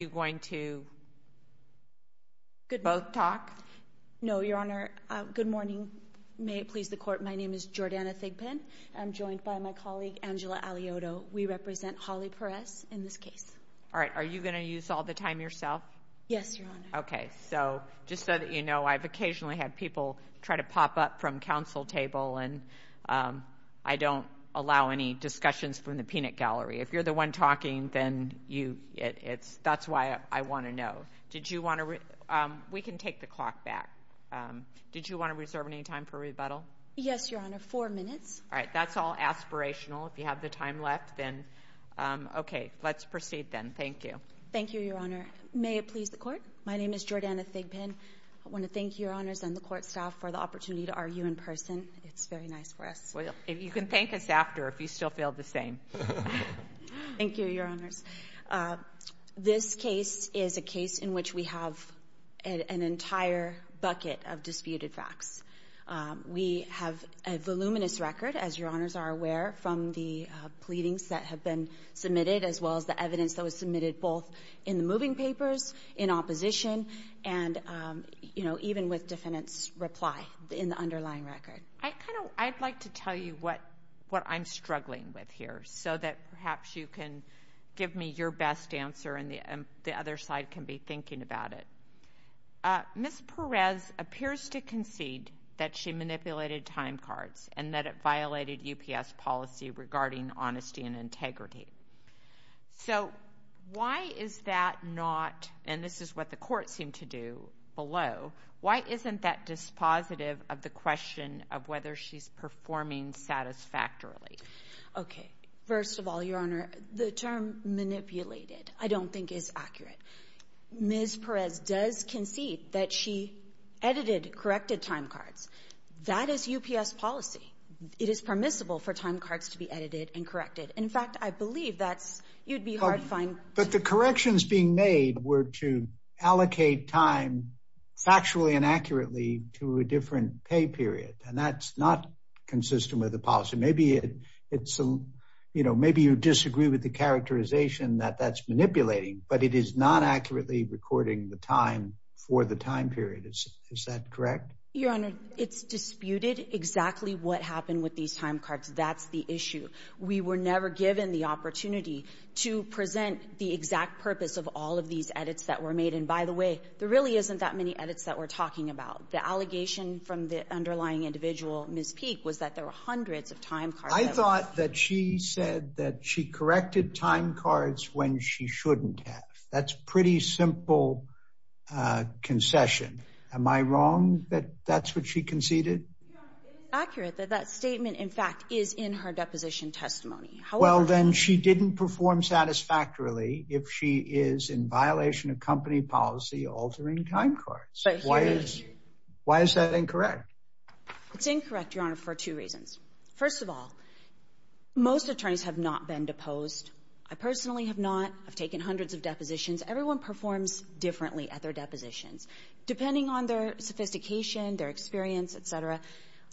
you going to both talk? No, Your Honor. Good morning. May it please the court. My name is Jordana Thigpen. I'm joined by my colleague, Angela Alioto. We represent Holly Perez in this case. All right. Are you going to use all the time yourself? Yes, Your Honor. Okay. So just so that you know, I've occasionally had people try to pop up from council table, and, um, I don't allow any discussions from the peanut gallery. If you're the one talking, then you, it's, that's why I want to know. Did you want to, um, we can take the clock back. Um, did you want to reserve any time for rebuttal? Yes, Your Honor. Four minutes. All right. That's all aspirational. If you have the time left, then, um, okay, let's proceed then. Thank you. Thank you, Your Honor. May it please the court. My name is Jordana Thigpen. I want to thank Your Honors and the court staff for the opportunity to argue in person. It's very nice for us. Well, you can thank us after if you still feel the same. Thank you, Your Honors. This case is a case in which we have an entire bucket of disputed facts. We have a voluminous record, as Your Honors are aware, from the pleadings that have been submitted, as well as the evidence that was submitted both in the moving papers, in opposition, and, um, you know, even with defendant's reply in the underlying record. I kind of, I'd like to tell you what, what I'm struggling with here so that perhaps you can give me your best answer and the other side can be thinking about it. Uh, Ms. Perez appears to concede that she manipulated time cards and that it violated UPS policy regarding honesty and integrity. So why is that not, and this is what the court seemed to do below, why isn't that dispositive of the question of whether she's performing satisfactorily? Okay. First of all, Your Honor, the term manipulated I don't think is accurate. Ms. Perez does concede that she edited corrected time cards. That is UPS policy. It is permissible for time cards to be edited and corrected. In fact, I believe that's you'd be hard to find. But the corrections being made were to allocate time factually and accurately to a different pay period, and that's not consistent with the policy. Maybe it's, you know, maybe you disagree with the characterization that that's manipulating, but it is not accurately recording the time for the time period. Is that correct? Your Honor, it's disputed exactly what happened with these time cards. That's the issue. We were never given the opportunity to present the exact purpose of all of these edits that were made. And by the way, there really isn't that many edits that we're talking about. The allegation from the underlying individual, Ms. Peak, was that there were hundreds of time. I thought that she said that she corrected time cards when she shouldn't have. That's pretty simple concession. Am I wrong that that's what she conceded? Accurate that that statement, in fact, is in her deposition testimony. Well, then she didn't perform satisfactorily if she is in violation of company policy, altering time cards. Why is why is that incorrect? It's incorrect, Your Honor, for two reasons. First of all, most attorneys have not been deposed. I personally have not taken hundreds of depositions. Everyone performs differently at their depositions, depending on their sophistication, their experience, et cetera.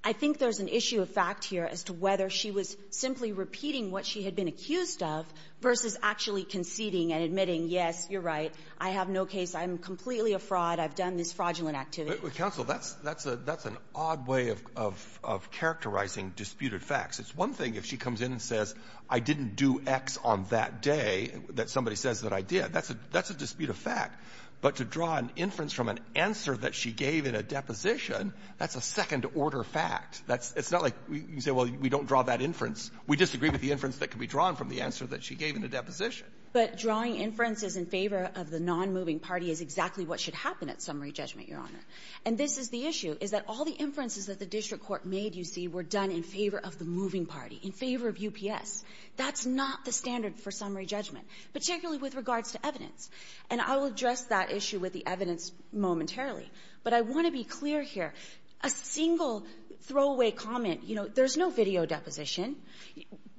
I think there's an issue of fact here as to whether she was simply repeating what she had been accused of versus actually conceding and admitting, yes, you're right, I have no case, I'm completely a fraud, I've done this fraudulent activity. But, counsel, that's an odd way of characterizing disputed facts. It's one thing if she comes in and says, I didn't do X on that day, that somebody says that I did. That's a dispute of fact. But to draw an inference from an answer that she gave in a deposition, that's a second-order fact. That's not like you say, well, we don't draw that inference. We disagree with the inference that can be drawn from the answer that she gave in the deposition. But drawing inferences in favor of the non-moving party is exactly what should happen at summary judgment, Your Honor. And this is the issue, is that all the inferences that the district court made, you see, were done in favor of the moving party, in favor of UPS. That's not the standard for summary judgment, particularly with regards to evidence. And I will address that issue with the evidence momentarily. But I want to be clear here. A single throwaway comment, you know, there's no video deposition.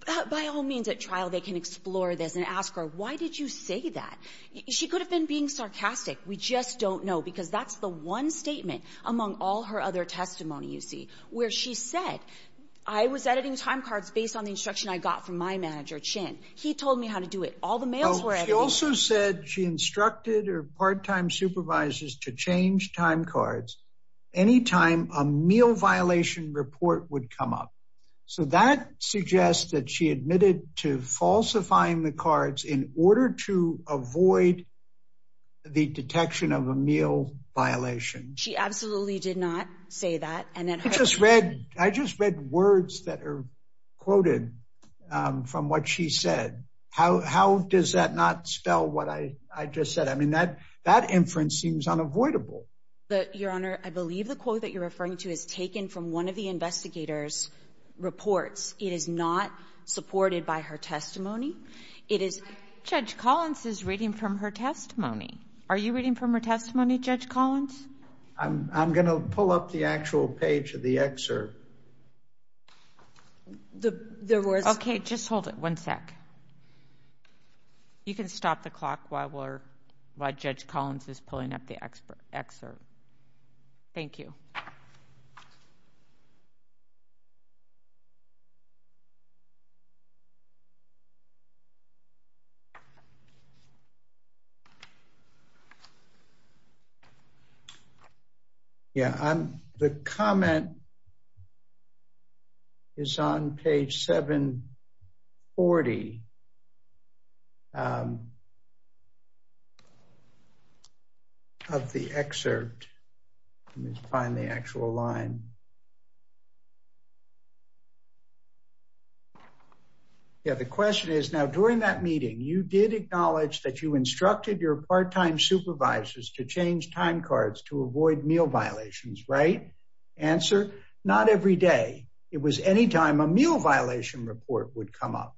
By all means, at trial, they can explore this and ask her, why did you say that? She could have been being sarcastic. We just don't know, because that's the one statement among all her other testimony, you see, where she said, I was editing time cards based on the instruction I got from my manager, Chin. He told me how to do it. All the mails were edited. She also said she instructed her part-time supervisors to change time cards any time a meal violation report would come up. So that suggests that she admitted to falsifying the cards in order to avoid the detection of a meal violation. She absolutely did not say that. I just read words that are quoted from what she said. How does that not spell what I just said? I mean, that inference seems unavoidable. Your Honor, I believe the quote that you're referring to is taken from one of the investigator's reports. It is not supported by her testimony. It is... Judge Collins is reading from her testimony. Are you reading from her testimony, Judge Collins? I'm going to pull up the actual page of the excerpt. There was... Okay, just hold it one sec. You can stop the clock while Judge Collins is pulling up the excerpt. Thank you. Yeah, the comment is on page 740 of the excerpt. Let me find the actual line. Yeah, the question is, now during that meeting, you did acknowledge that you instructed your part-time supervisors to change time cards to avoid meal violations, right? Answer, not every day. It was any time a meal violation report would come up.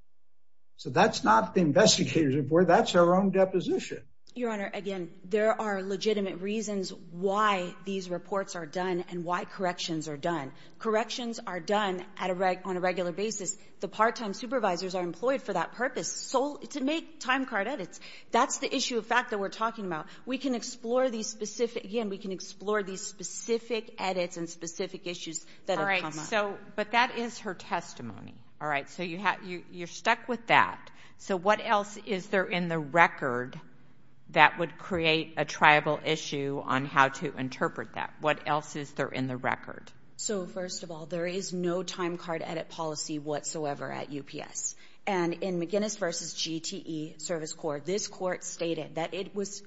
So that's not the investigator's report. That's her own deposition. Your Honor, again, there are legitimate reasons why these reports are done and why corrections are done. Corrections are done on a regular basis. The part-time supervisors are employed for that purpose, to make time card edits. That's the issue of fact that we're talking about. We can explore these specific... Again, we can explore these specific edits and specific issues that have come up. All right, but that is her testimony. All right, so you're stuck with that. So what else is there in the record that would create a triable issue on how to interpret that? What else is there in the record? So, first of all, there is no time card edit policy whatsoever at UPS. And in McGinnis v. GTE Service Court, this court stated that it was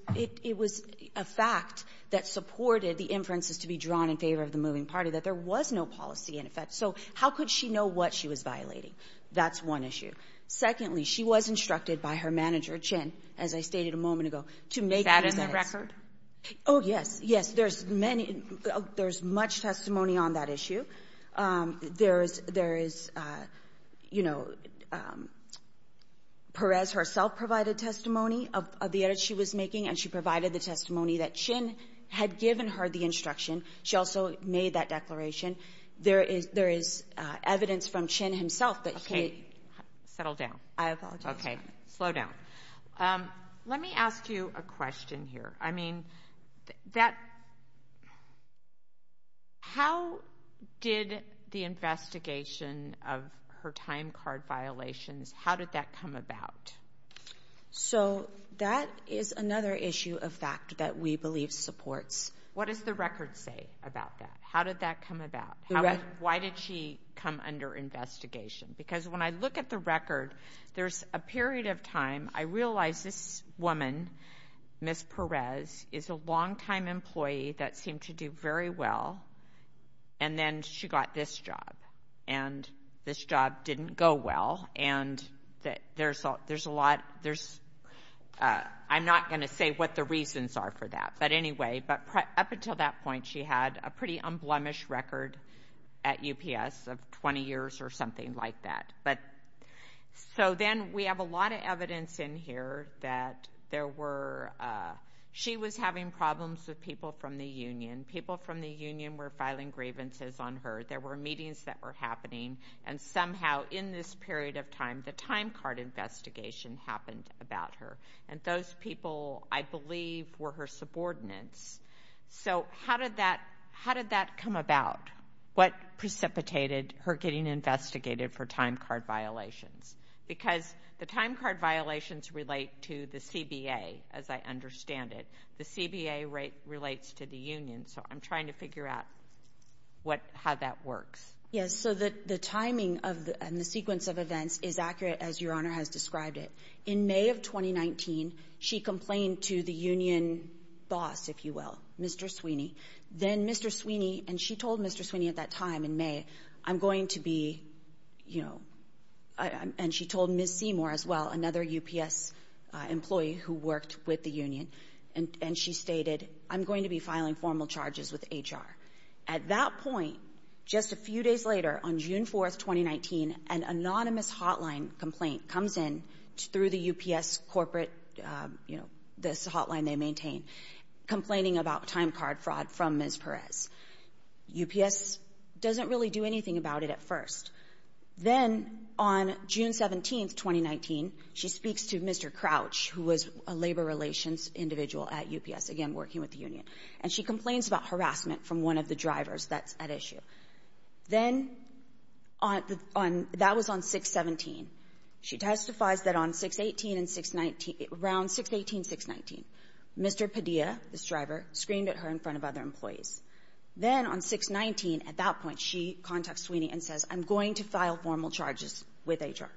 a fact that supported the inferences to be drawn in favor of the moving party, that there was no policy in effect. So how could she know what she was violating? That's one issue. Secondly, she was instructed by her manager, Chin, as I stated a moment ago, to make these edits. Is that in the record? Oh, yes, yes. There's much testimony on that issue. There is, you know, Perez herself provided testimony of the edits she was making, and she provided the testimony that Chin had given her the instruction. She also made that declaration. There is evidence from Chin himself that he... Okay, settle down. I apologize. Okay, slow down. Let me ask you a question here. I mean, how did the investigation of her time card violations, how did that come about? So that is another issue of fact that we believe supports. What does the record say about that? How did that come about? Why did she come under investigation? Because when I look at the record, there's a period of time I realized this woman, Ms. Perez, is a longtime employee that seemed to do very well, and then she got this job, and this job didn't go well, and there's a lot. I'm not going to say what the reasons are for that. But anyway, up until that point, she had a pretty unblemished record at UPS of 20 years or something like that. So then we have a lot of evidence in here that there were... She was having problems with people from the union. People from the union were filing grievances on her. There were meetings that were happening, and somehow in this period of time, the time card investigation happened about her, and those people, I believe, were her subordinates. So how did that come about? What precipitated her getting investigated for time card violations? Because the time card violations relate to the CBA, as I understand it. The CBA relates to the union, so I'm trying to figure out how that works. Yes, so the timing and the sequence of events is accurate, as Your Honor has described it. In May of 2019, she complained to the union boss, if you will, Mr. Sweeney. Then Mr. Sweeney, and she told Mr. Sweeney at that time in May, I'm going to be, you know, and she told Ms. Seymour as well, another UPS employee who worked with the union, and she stated, I'm going to be filing formal charges with HR. At that point, just a few days later, on June 4th, 2019, an anonymous hotline complaint comes in through the UPS corporate, you know, this hotline they maintain, complaining about time card fraud from Ms. Perez. UPS doesn't really do anything about it at first. Then on June 17th, 2019, she speaks to Mr. Crouch, who was a labor relations individual at UPS, again working with the union, and she complains about harassment from one of the drivers that's at issue. Then that was on 6-17. She testifies that on 6-18 and 6-19, around 6-18, 6-19, Mr. Padilla, this driver, screamed at her in front of other employees. Then on 6-19, at that point, she contacts Sweeney and says, I'm going to file formal charges with HR.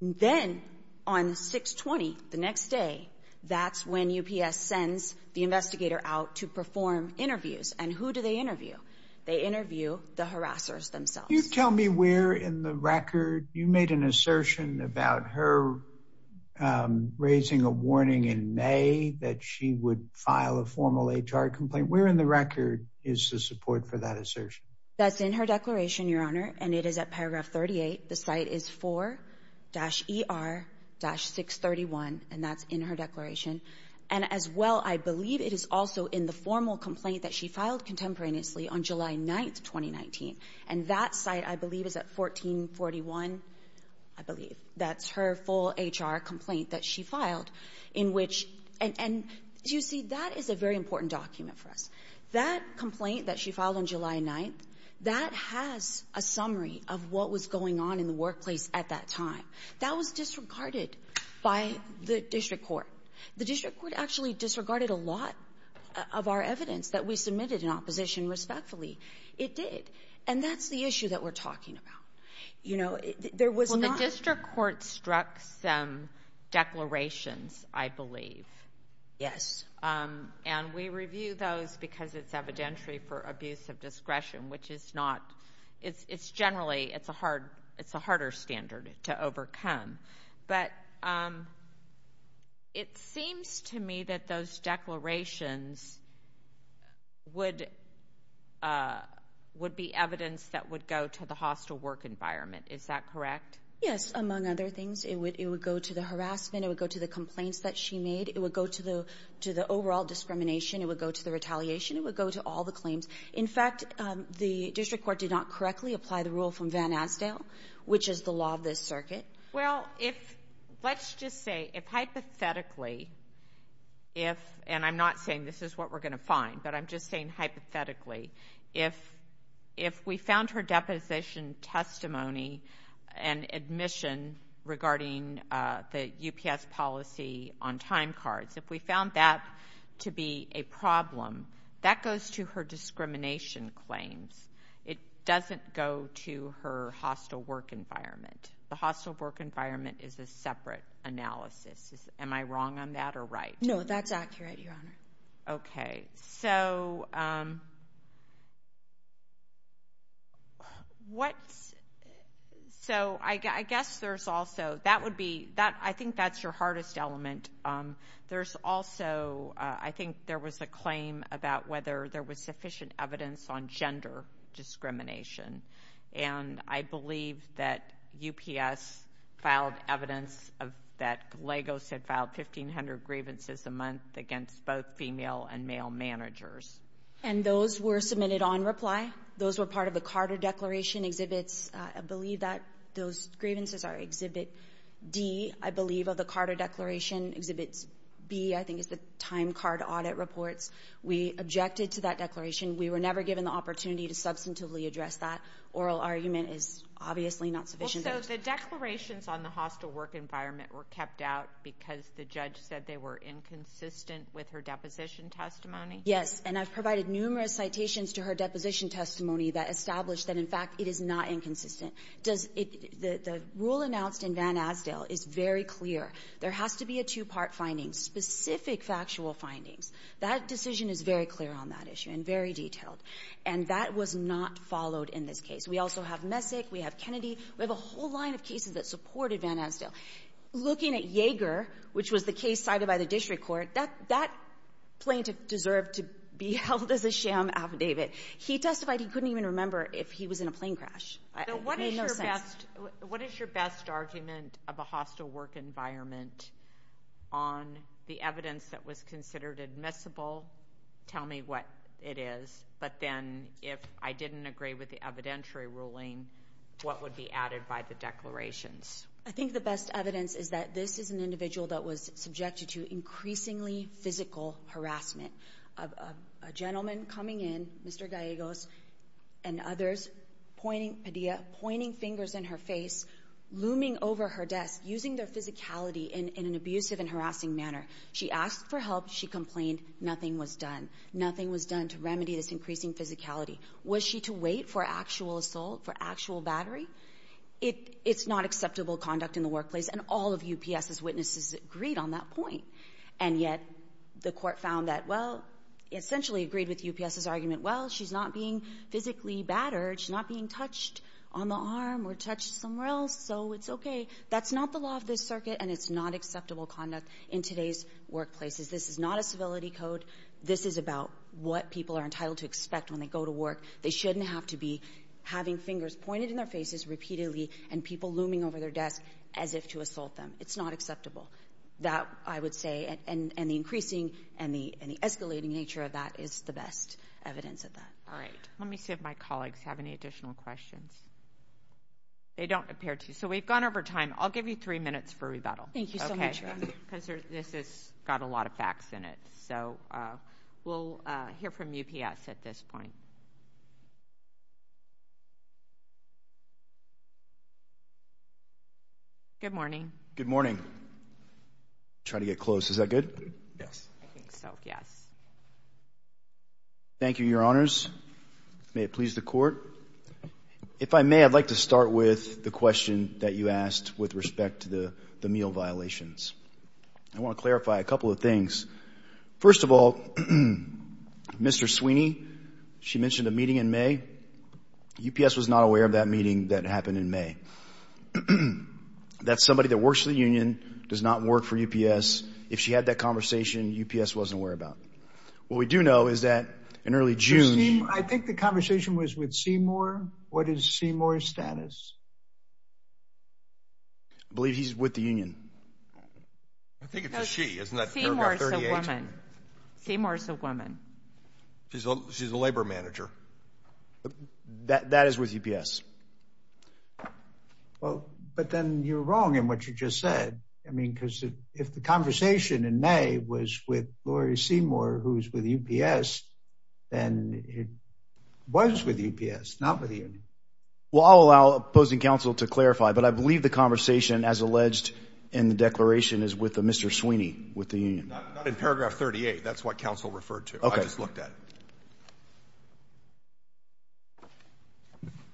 Then on 6-20, the next day, that's when UPS sends the investigator out to perform interviews, and who do they interview? They interview the harassers themselves. Can you tell me where in the record you made an assertion about her raising a warning in May that she would file a formal HR complaint? Where in the record is the support for that assertion? That's in her declaration, Your Honor, and it is at paragraph 38. The site is 4-ER-631, and that's in her declaration. As well, I believe it is also in the formal complaint that she filed contemporaneously on July 9, 2019. That site, I believe, is at 14-41, I believe. That's her full HR complaint that she filed. You see, that is a very important document for us. That complaint that she filed on July 9, that has a summary of what was going on in the workplace at that time. That was disregarded by the district court. The district court actually disregarded a lot of our evidence that we submitted in opposition respectfully. It did, and that's the issue that we're talking about. Well, the district court struck some declarations, I believe. Yes. Generally, it's a harder standard to overcome. But it seems to me that those declarations would be evidence that would go to the hostile work environment. Is that correct? Yes, among other things. It would go to the harassment. It would go to the complaints that she made. It would go to the overall discrimination. It would go to the retaliation. It would go to all the claims. In fact, the district court did not correctly apply the rule from Van Asdale, which is the law of this circuit. Well, let's just say if hypothetically, and I'm not saying this is what we're going to find, but I'm just saying hypothetically, if we found her deposition testimony and admission regarding the UPS policy on time cards, if we found that to be a problem, that goes to her discrimination claims. It doesn't go to her hostile work environment. The hostile work environment is a separate analysis. Am I wrong on that or right? No, that's accurate, Your Honor. Okay. So I guess there's also – I think that's your hardest element. There's also – I think there was a claim about whether there was sufficient evidence on gender discrimination, and I believe that UPS filed evidence that Lagos had filed 1,500 grievances a month against both female and male managers. And those were submitted on reply? Those were part of the Carter Declaration exhibits? I believe that those grievances are Exhibit D, I believe, of the Carter Declaration. Exhibit B, I think, is the time card audit reports. We objected to that declaration. We were never given the opportunity to substantively address that. Oral argument is obviously not sufficient evidence. So the declarations on the hostile work environment were kept out because the judge said they were inconsistent with her deposition testimony? Yes, and I've provided numerous citations to her deposition testimony that establish that, in fact, it is not inconsistent. The rule announced in Van Asdale is very clear. There has to be a two-part finding, specific factual findings. That decision is very clear on that issue and very detailed. And that was not followed in this case. We also have Messick. We have Kennedy. We have a whole line of cases that supported Van Asdale. Looking at Yeager, which was the case cited by the district court, that plaintiff deserved to be held as a sham affidavit. He testified he couldn't even remember if he was in a plane crash. It made no sense. What is your best argument of a hostile work environment on the evidence that was considered admissible? Tell me what it is. But then if I didn't agree with the evidentiary ruling, what would be added by the declarations? I think the best evidence is that this is an individual that was subjected to increasingly physical harassment. A gentleman coming in, Mr. Gallegos and others, pointing fingers in her face, looming over her desk, using their physicality in an abusive and harassing manner. She asked for help. She complained. Nothing was done. Nothing was done to remedy this increasing physicality. Was she to wait for actual assault, for actual battery? It's not acceptable conduct in the workplace, and all of UPS's witnesses agreed on that point. And yet the court found that, well, it essentially agreed with UPS's argument, well, she's not being physically battered, she's not being touched on the arm or touched somewhere else, so it's okay. That's not the law of this circuit, and it's not acceptable conduct in today's workplaces. This is not a civility code. This is about what people are entitled to expect when they go to work. They shouldn't have to be having fingers pointed in their faces repeatedly and people looming over their desk as if to assault them. It's not acceptable. That, I would say, and the increasing and the escalating nature of that is the best evidence of that. All right. Let me see if my colleagues have any additional questions. They don't appear to. So we've gone over time. I'll give you three minutes for rebuttal. Thank you so much. Because this has got a lot of facts in it. So we'll hear from UPS at this point. Good morning. Good morning. Try to get close. Is that good? Yes. I think so, yes. Thank you, Your Honors. May it please the Court. If I may, I'd like to start with the question that you asked with respect to the meal violations. I want to clarify a couple of things. First of all, Mr. Sweeney, she mentioned a meeting in May. UPS was not aware of that meeting that happened in May. That somebody that works for the union does not work for UPS. If she had that conversation, UPS wasn't aware about it. What we do know is that in early June. I think the conversation was with Seymour. What is Seymour's status? I believe he's with the union. I think it's a she, isn't it? Seymour is a woman. Seymour is a woman. She's a labor manager. That is with UPS. But then you're wrong in what you just said. I mean, because if the conversation in May was with Laurie Seymour, who's with UPS. And it was with UPS, not with you. Well, I'll allow opposing counsel to clarify, but I believe the conversation as alleged. And the declaration is with a Mr. Sweeney with the union. Paragraph 38. That's what council referred to. I just looked at.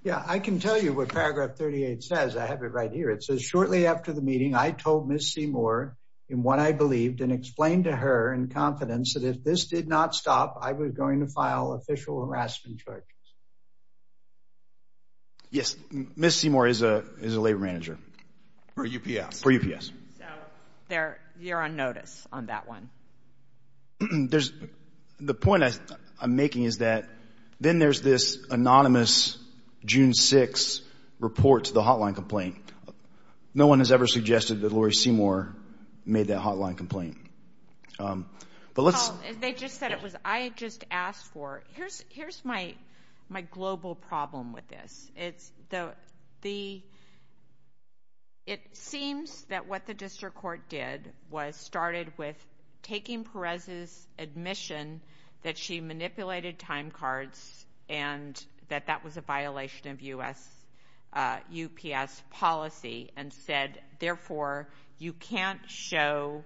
Yeah, I can tell you what paragraph 38 says. I have it right here. It says shortly after the meeting, I told Miss Seymour in what I believed and explained to her in confidence that if this did not stop, I was going to file official harassment charges. Yes. Miss Seymour is a, is a labor manager. For UPS. For UPS. So you're on notice on that one. There's the point I'm making is that then there's this anonymous. June six report to the hotline complaint. No one has ever suggested that Laurie Seymour made that hotline complaint. But let's. They just said it was, I just asked for here's, here's my, my global problem with this. It's the, the. It seems that what the district court did was started with taking Perez's admission that she manipulated time cards and that that was a violation of US UPS policy and said, therefore you can't show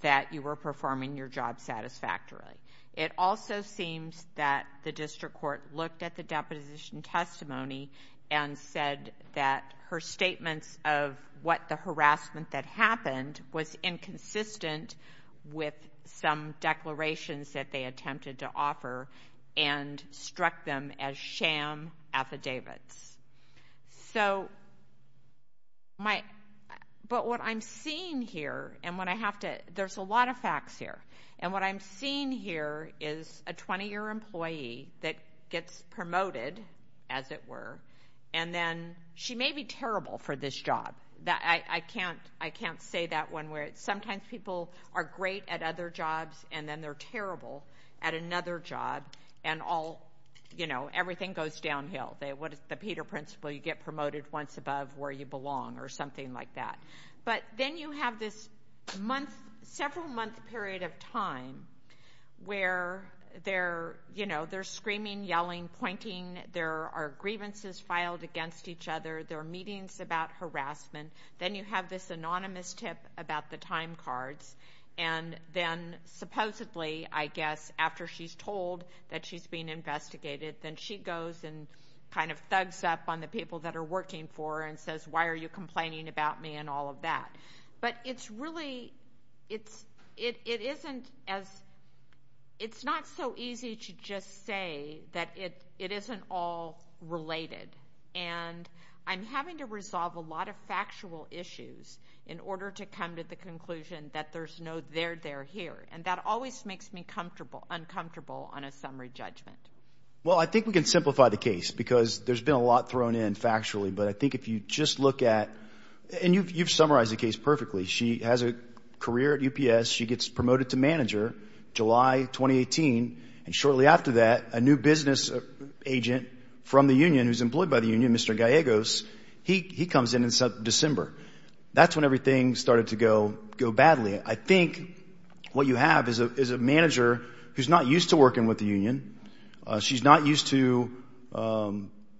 that you were performing your job satisfactorily. It also seems that the district court looked at the deposition testimony and said that her statements of what the harassment that happened was inconsistent with some declarations that they attempted to offer and struck them as sham affidavits. So my, but what I'm seeing here and what I have to, there's a lot of facts here and what I'm seeing here is a 20 year employee that gets promoted as it were, and then she may be terrible for this job that I can't, I can't say that one where sometimes people are great at other jobs and then they're terrible at another job and all, you know, everything goes downhill. They, what is the Peter principle? You get promoted once above where you belong or something like that. But then you have this month, several month period of time where they're, you know, they're screaming, yelling, pointing. There are grievances filed against each other. There are meetings about harassment. Then you have this anonymous tip about the time cards. And then supposedly, I guess, after she's told that she's being investigated, then she goes and kind of thugs up on the people that are working for her and says, why are you complaining about me and all of that? But it's really, it's, it, it isn't as, it's not so easy to just say that it, it isn't all related. And I'm having to resolve a lot of factual issues in order to come to the conclusion that there's no there, they're here. And that always makes me comfortable, uncomfortable on a summary judgment. Well, I think we can simplify the case because there's been a lot thrown in factually, but I think if you just look at, and you've, you've summarized the case perfectly. She has a career at UPS. She gets promoted to manager July, 2018. And shortly after that, a new business agent from the union who's employed by the union, Mr. Gallegos, he, he comes in in December. That's when everything started to go, go badly. I think what you have is a, is a manager who's not used to working with the union. She's not used to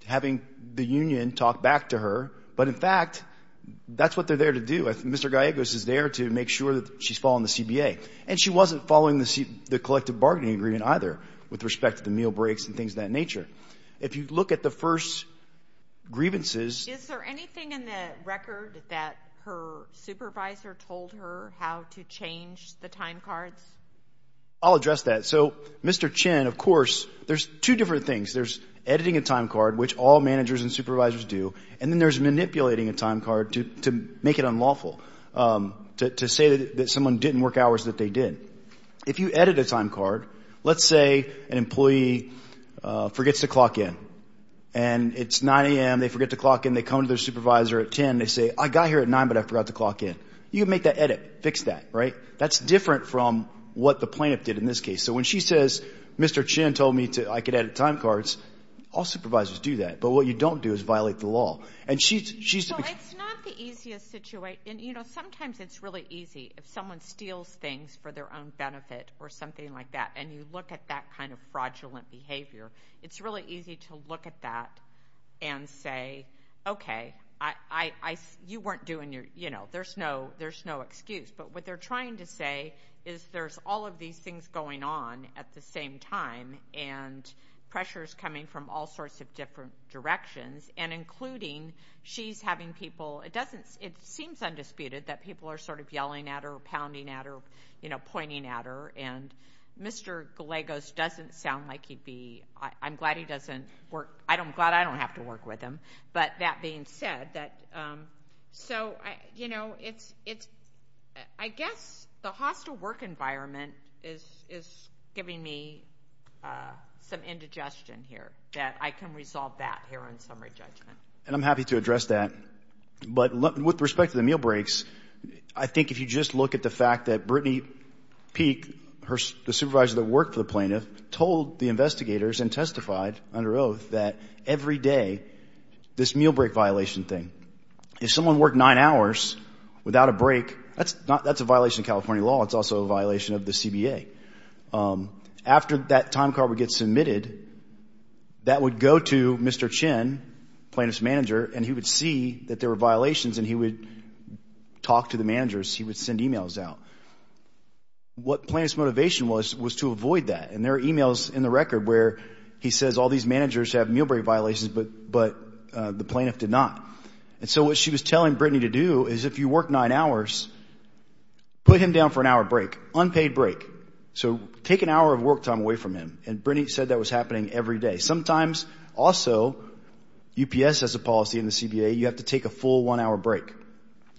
having the union talk back to her, but in fact that's what they're there to do. Mr. Gallegos is there to make sure that she's following the CBA and she doesn't have to be either with respect to the meal breaks and things of that nature. If you look at the first grievances, is there anything in the record that her supervisor told her how to change the time cards? I'll address that. So Mr. Chen, of course, there's two different things. There's editing a time card, which all managers and supervisors do. And then there's manipulating a time card to, to make it unlawful to, to say that someone didn't work hours that they did. If you edit a time card, let's say an employee forgets to clock in and it's 9 a.m., they forget to clock in, they come to their supervisor at 10 and they say, I got here at 9, but I forgot to clock in. You can make that edit, fix that, right? That's different from what the plaintiff did in this case. So when she says, Mr. Chen told me to, I could edit time cards, all supervisors do that. But what you don't do is violate the law. And she's, she's. It's not the easiest situation. And, you know, sometimes it's really easy if someone steals things for their own benefit or something like that and you look at that kind of fraudulent behavior, it's really easy to look at that and say, okay, I, I, you weren't doing your, you know, there's no, there's no excuse. But what they're trying to say is there's all of these things going on at the same time and pressure's coming from all sorts of different directions, and including she's having people, it doesn't, it seems undisputed that people are sort of yelling at her or pounding at her, you know, pointing at her. And Mr. Gallegos doesn't sound like he'd be, I'm glad he doesn't work, I'm glad I don't have to work with him. But that being said, that, so, you know, it's, it's, I guess the hostile work environment is giving me some indigestion here, that I can resolve that here on summary judgment. And I'm happy to address that. But with respect to the meal breaks, I think if you just look at the fact that Brittany Peek, the supervisor that worked for the plaintiff, told the investigators and testified under oath that every day this meal break violation thing, if someone worked nine hours without a break, that's not, that's a violation of California law. It's also a violation of the CBA. After that time card would get submitted, that would go to Mr. Chin, plaintiff's manager, and he would see that there were violations and he would talk to the managers, he would send emails out. What plaintiff's motivation was, was to avoid that. And there are emails in the record where he says all these managers have meal break violations, but the plaintiff did not. And so what she was telling Brittany to do is if you work nine hours, put him down for an hour break, unpaid break. So take an hour of work time away from him. And Brittany said that was happening every day. Sometimes also, UPS has a policy in the CBA, you have to take a full one hour break.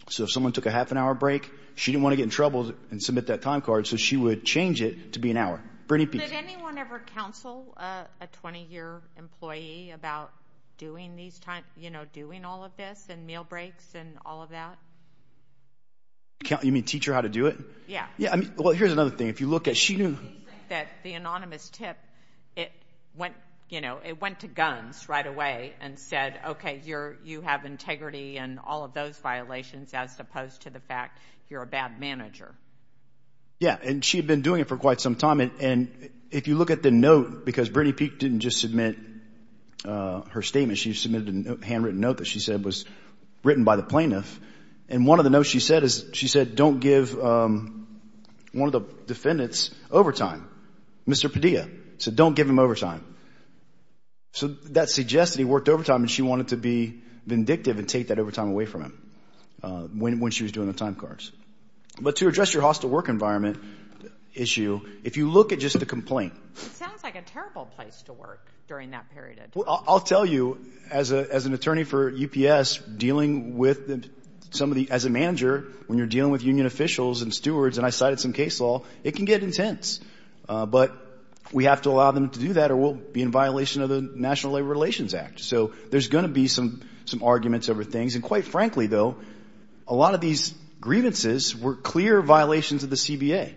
So if someone took a half an hour break, she didn't want to get in trouble and submit that time card, so she would change it to be an hour. Did anyone ever counsel a 20-year employee about doing these times, you know, doing all of this and meal breaks and all of that? You mean teach her how to do it? Yeah. Well, here's another thing. Do you think that the anonymous tip, it went, you know, it went to guns right away and said, okay, you have integrity and all of those violations as opposed to the fact you're a bad manager? Yeah, and she had been doing it for quite some time. And if you look at the note, because Brittany Peek didn't just submit her statement, she submitted a handwritten note that she said was written by the plaintiff. And one of the notes she said is she said don't give one of the defendants overtime. Mr. Padilla said don't give him overtime. So that suggests that he worked overtime and she wanted to be vindictive and take that overtime away from him when she was doing the time cards. But to address your hostile work environment issue, if you look at just the complaint. It sounds like a terrible place to work during that period of time. Well, I'll tell you, as an attorney for UPS, dealing with somebody as a manager, when you're dealing with union officials and stewards, and I cited some case law, it can get intense. But we have to allow them to do that or we'll be in violation of the National Labor Relations Act. So there's going to be some arguments over things. And quite frankly, though, a lot of these grievances were clear violations of the CBA.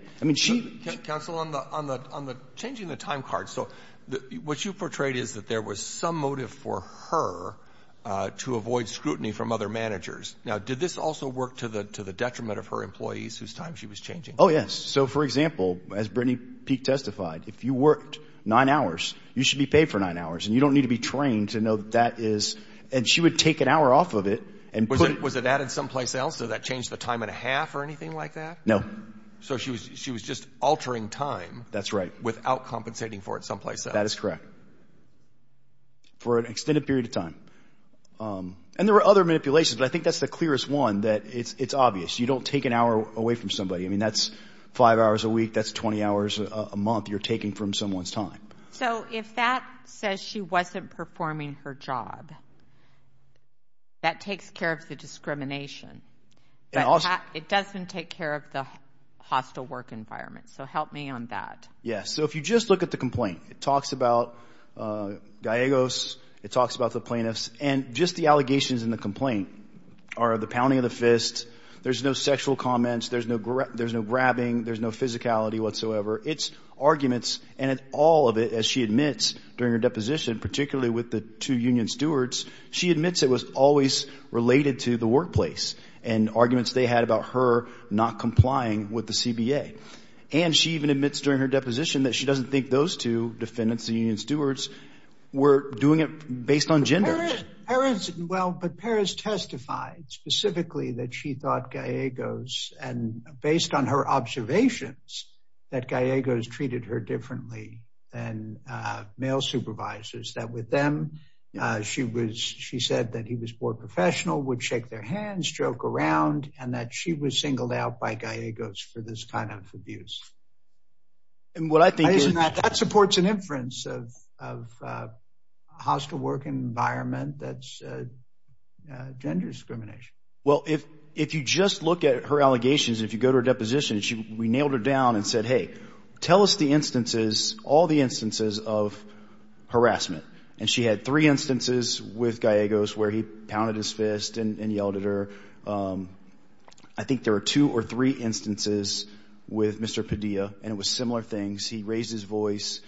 Counsel, on the changing the time cards, what you portrayed is that there was some motive for her to avoid scrutiny from other managers. Now, did this also work to the detriment of her employees whose time she was changing? Oh, yes. So, for example, as Brittany Peek testified, if you worked nine hours, you should be paid for nine hours, and you don't need to be trained to know that that is. And she would take an hour off of it. Was it added someplace else? Did that change the time and a half or anything like that? No. So she was just altering time. That's right. Without compensating for it someplace else. That is correct. For an extended period of time. And there were other manipulations, but I think that's the clearest one, that it's obvious. You don't take an hour away from somebody. I mean, that's five hours a week. That's 20 hours a month you're taking from someone's time. So if that says she wasn't performing her job, that takes care of the discrimination. But it doesn't take care of the hostile work environment. So help me on that. Yes. So if you just look at the complaint, it talks about Gallegos. It talks about the plaintiffs. And just the allegations in the complaint are the pounding of the fist. There's no sexual comments. There's no grabbing. There's no physicality whatsoever. It's arguments. And all of it, as she admits during her deposition, particularly with the two union stewards, she admits it was always related to the workplace and arguments they had about her not complying with the CBA. And she even admits during her deposition that she doesn't think those two defendants, the union stewards, were doing it based on gender. Well, but Perez testified specifically that she thought Gallegos, and based on her observations that Gallegos treated her differently than male supervisors, that with them, she said that he was more professional, would shake their hands, joke around, and that she was singled out by Gallegos for this kind of abuse. And what I think is— That supports an inference of a hostile work environment that's gender discrimination. Well, if you just look at her allegations, if you go to her deposition, and said, hey, tell us the instances, all the instances of harassment. And she had three instances with Gallegos where he pounded his fist and yelled at her. I think there were two or three instances with Mr. Padilla, and it was similar things. He raised his voice.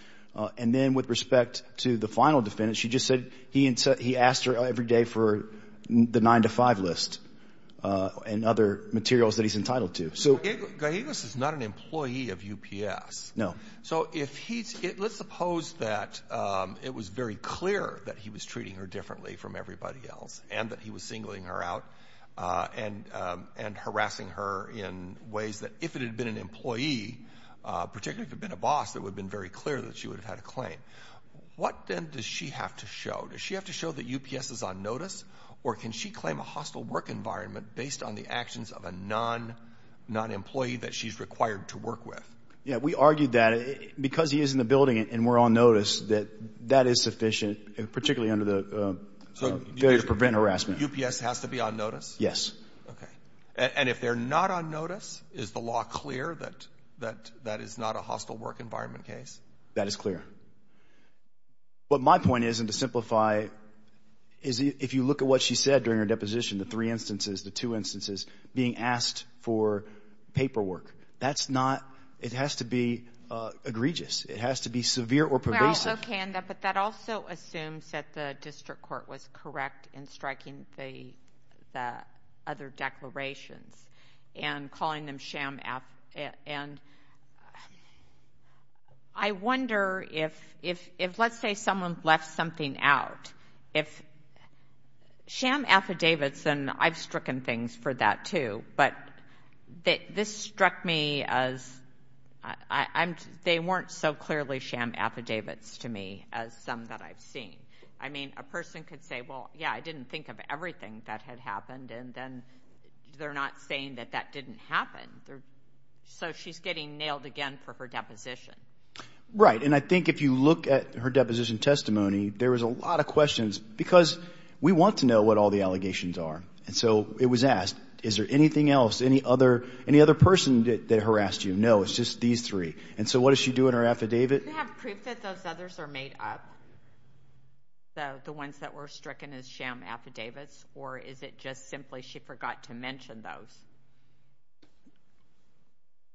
And then with respect to the final defendant, she just said he asked her every day for the nine-to-five list and other materials that he's entitled to. Gallegos is not an employee of UPS. No. So let's suppose that it was very clear that he was treating her differently from everybody else and that he was singling her out and harassing her in ways that if it had been an employee, particularly if it had been a boss, it would have been very clear that she would have had a claim. What then does she have to show? Does she have to show that UPS is on notice, or can she claim a hostile work environment based on the actions of a non-employee that she's required to work with? Yeah, we argued that because he is in the building and we're on notice, that that is sufficient, particularly under the failure to prevent harassment. So UPS has to be on notice? Yes. Okay. And if they're not on notice, is the law clear that that is not a hostile work environment case? That is clear. But my point is, and to simplify, is if you look at what she said during her deposition, the three instances, the two instances, being asked for paperwork, that's not – it has to be egregious. It has to be severe or pervasive. Okay, but that also assumes that the district court was correct in striking the other declarations and calling them sham affidavits. And I wonder if, let's say someone left something out, if sham affidavits, and I've stricken things for that too, but this struck me as they weren't so clearly sham affidavits to me as some that I've seen. I mean, a person could say, well, yeah, I didn't think of everything that had happened, and then they're not saying that that didn't happen. So she's getting nailed again for her deposition. Right, and I think if you look at her deposition testimony, there was a lot of questions because we want to know what all the allegations are. And so it was asked, is there anything else, any other person that harassed you? No, it's just these three. And so what does she do in her affidavit? Do you have proof that those others are made up, the ones that were stricken as sham affidavits, or is it just simply she forgot to mention those?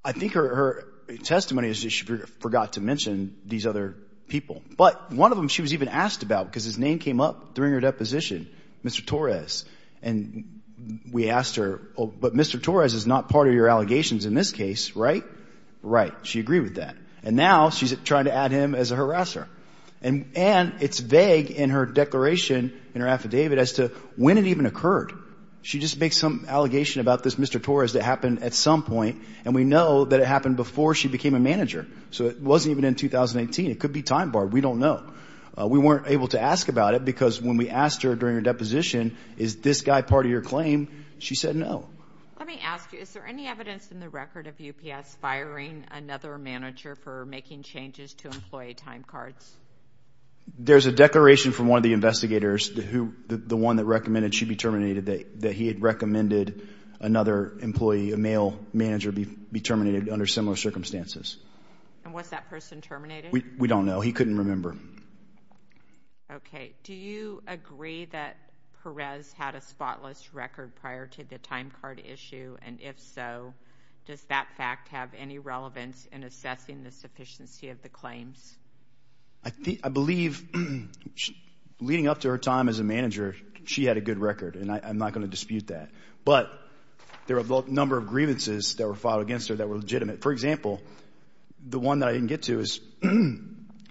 I think her testimony is that she forgot to mention these other people. But one of them she was even asked about because his name came up during her deposition, Mr. Torres. And we asked her, but Mr. Torres is not part of your allegations in this case, right? Right, she agreed with that. And now she's trying to add him as a harasser. And it's vague in her declaration in her affidavit as to when it even occurred. She just makes some allegation about this Mr. Torres that happened at some point, and we know that it happened before she became a manager. So it wasn't even in 2018. It could be time-barred. We don't know. We weren't able to ask about it because when we asked her during her deposition, is this guy part of your claim, she said no. Let me ask you, is there any evidence in the record of UPS firing another manager for making changes to employee time cards? There's a declaration from one of the investigators, the one that recommended she be terminated, that he had recommended another employee, a male manager, be terminated under similar circumstances. And was that person terminated? We don't know. He couldn't remember. Okay. Do you agree that Perez had a spotless record prior to the time card issue? And if so, does that fact have any relevance in assessing the sufficiency of the claims? I believe leading up to her time as a manager, she had a good record, and I'm not going to dispute that. But there were a number of grievances that were filed against her that were legitimate. For example, the one that I didn't get to is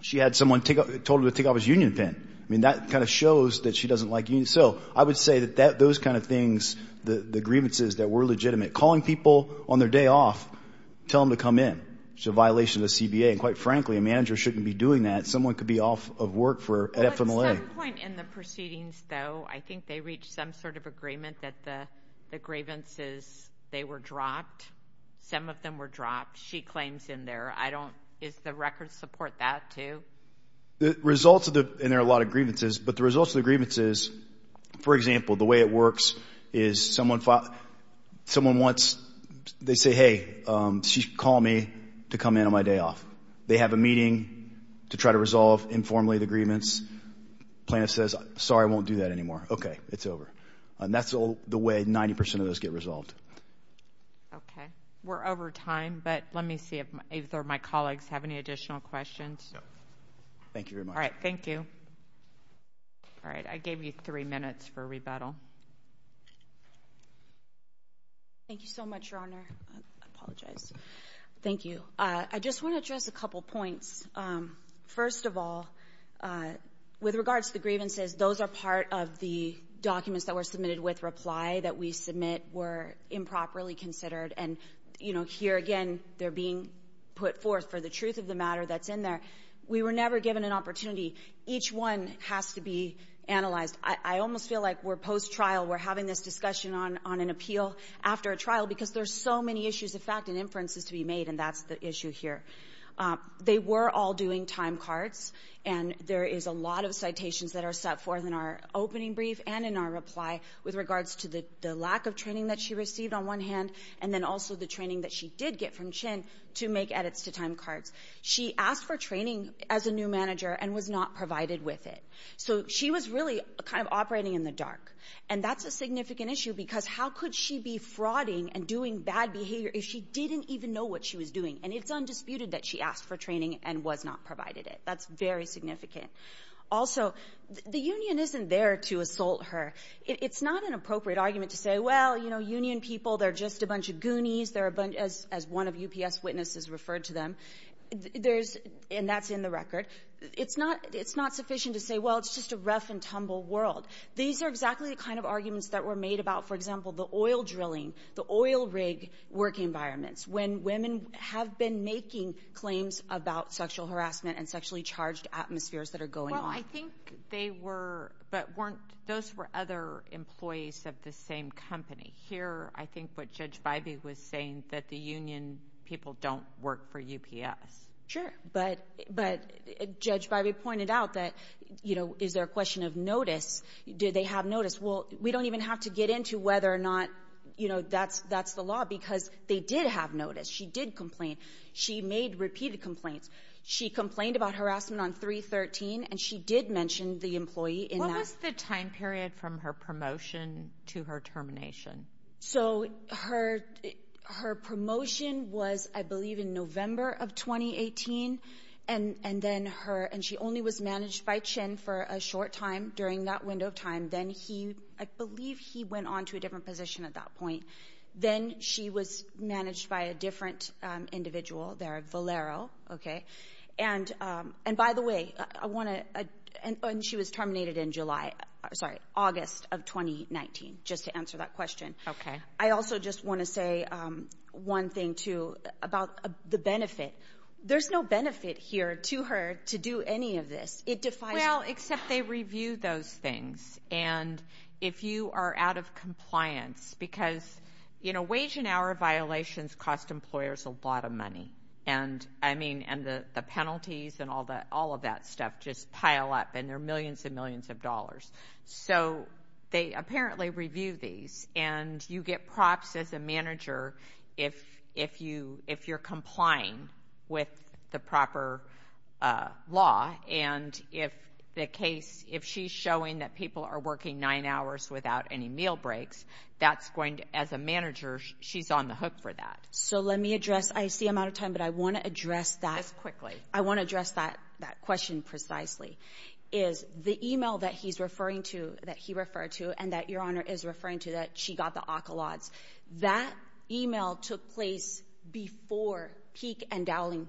she had someone told her to take off his union pin. I mean, that kind of shows that she doesn't like unions. So I would say that those kind of things, the grievances that were legitimate, calling people on their day off, tell them to come in, which is a violation of the CBA. And quite frankly, a manager shouldn't be doing that. Someone could be off of work for FMLA. At some point in the proceedings, though, I think they reached some sort of agreement that the grievances, they were dropped, some of them were dropped, she claims in there. I don't – does the record support that too? The results of the – and there are a lot of grievances, but the results of the grievances, for example, the way it works is someone wants – they say, hey, she's calling me to come in on my day off. They have a meeting to try to resolve informally the grievance. Plaintiff says, sorry, I won't do that anymore. Okay, it's over. And that's the way 90% of those get resolved. Okay. We're over time, but let me see if either of my colleagues have any additional questions. No. Thank you very much. All right, thank you. All right, I gave you three minutes for rebuttal. Thank you so much, Your Honor. I apologize. Thank you. I just want to address a couple points. First of all, with regards to the grievances, those are part of the documents that were submitted with reply that we submit were improperly considered. And, you know, here again, they're being put forth for the truth of the matter that's in there. We were never given an opportunity. Each one has to be analyzed. I almost feel like we're post-trial. We're having this discussion on an appeal after a trial because there are so many issues of fact and inferences to be made, and that's the issue here. They were all doing time cards, and there is a lot of citations that are set forth in our opening brief and in our reply with regards to the lack of training that she received on one hand and then also the training that she did get from Chin to make edits to time cards. She asked for training as a new manager and was not provided with it. So she was really kind of operating in the dark, and that's a significant issue because how could she be frauding and doing bad behavior if she didn't even know what she was doing? And it's undisputed that she asked for training and was not provided it. That's very significant. Also, the union isn't there to assault her. It's not an appropriate argument to say, well, you know, union people, they're just a bunch of goonies, as one of UPS witnesses referred to them, and that's in the record. It's not sufficient to say, well, it's just a rough and tumble world. These are exactly the kind of arguments that were made about, for example, the oil drilling, the oil rig work environments when women have been making claims about sexual harassment and sexually charged atmospheres that are going on. Well, I think they were, but weren't those were other employees of the same company. Here, I think what Judge Bybee was saying, that the union people don't work for UPS. Sure, but Judge Bybee pointed out that, you know, is there a question of notice? Do they have notice? Well, we don't even have to get into whether or not, you know, that's the law because they did have notice. She did complain. She made repeated complaints. She complained about harassment on 313, and she did mention the employee in that. What was the time period from her promotion to her termination? So her promotion was, I believe, in November of 2018, and then her, and she only was managed by Chin for a short time during that window of time. And then he, I believe he went on to a different position at that point. Then she was managed by a different individual there, Valero, okay? And by the way, I want to, and she was terminated in July, sorry, August of 2019, just to answer that question. Okay. I also just want to say one thing, too, about the benefit. There's no benefit here to her to do any of this. Well, except they review those things. And if you are out of compliance, because, you know, wage and hour violations cost employers a lot of money. And, I mean, and the penalties and all of that stuff just pile up, and they're millions and millions of dollars. So they apparently review these, and you get props as a manager if you're complying with the proper law. And if the case, if she's showing that people are working nine hours without any meal breaks, that's going to, as a manager, she's on the hook for that. So let me address, I see I'm out of time, but I want to address that. Yes, quickly. I want to address that question precisely, is the email that he's referring to, that he referred to, and that Your Honor is referring to, that she got the occulots, that email took place before Peek and Dowling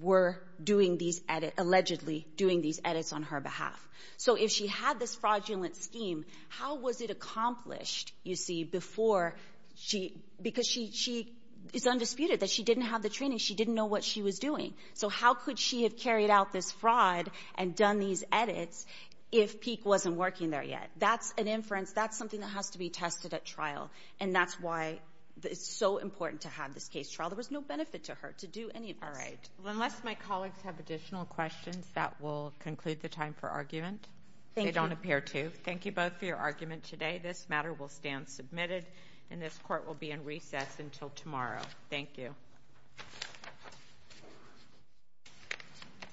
were doing these edits, allegedly doing these edits on her behalf. So if she had this fraudulent scheme, how was it accomplished, you see, before she, because she is undisputed that she didn't have the training, she didn't know what she was doing. So how could she have carried out this fraud and done these edits if Peek wasn't working there yet? That's an inference, that's something that has to be tested at trial, and that's why it's so important to have this case trial. There was no benefit to her to do any of this. All right. Well, unless my colleagues have additional questions, that will conclude the time for argument. Thank you. They don't appear to. Thank you both for your argument today. This matter will stand submitted, and this Court will be in recess until tomorrow. Thank you.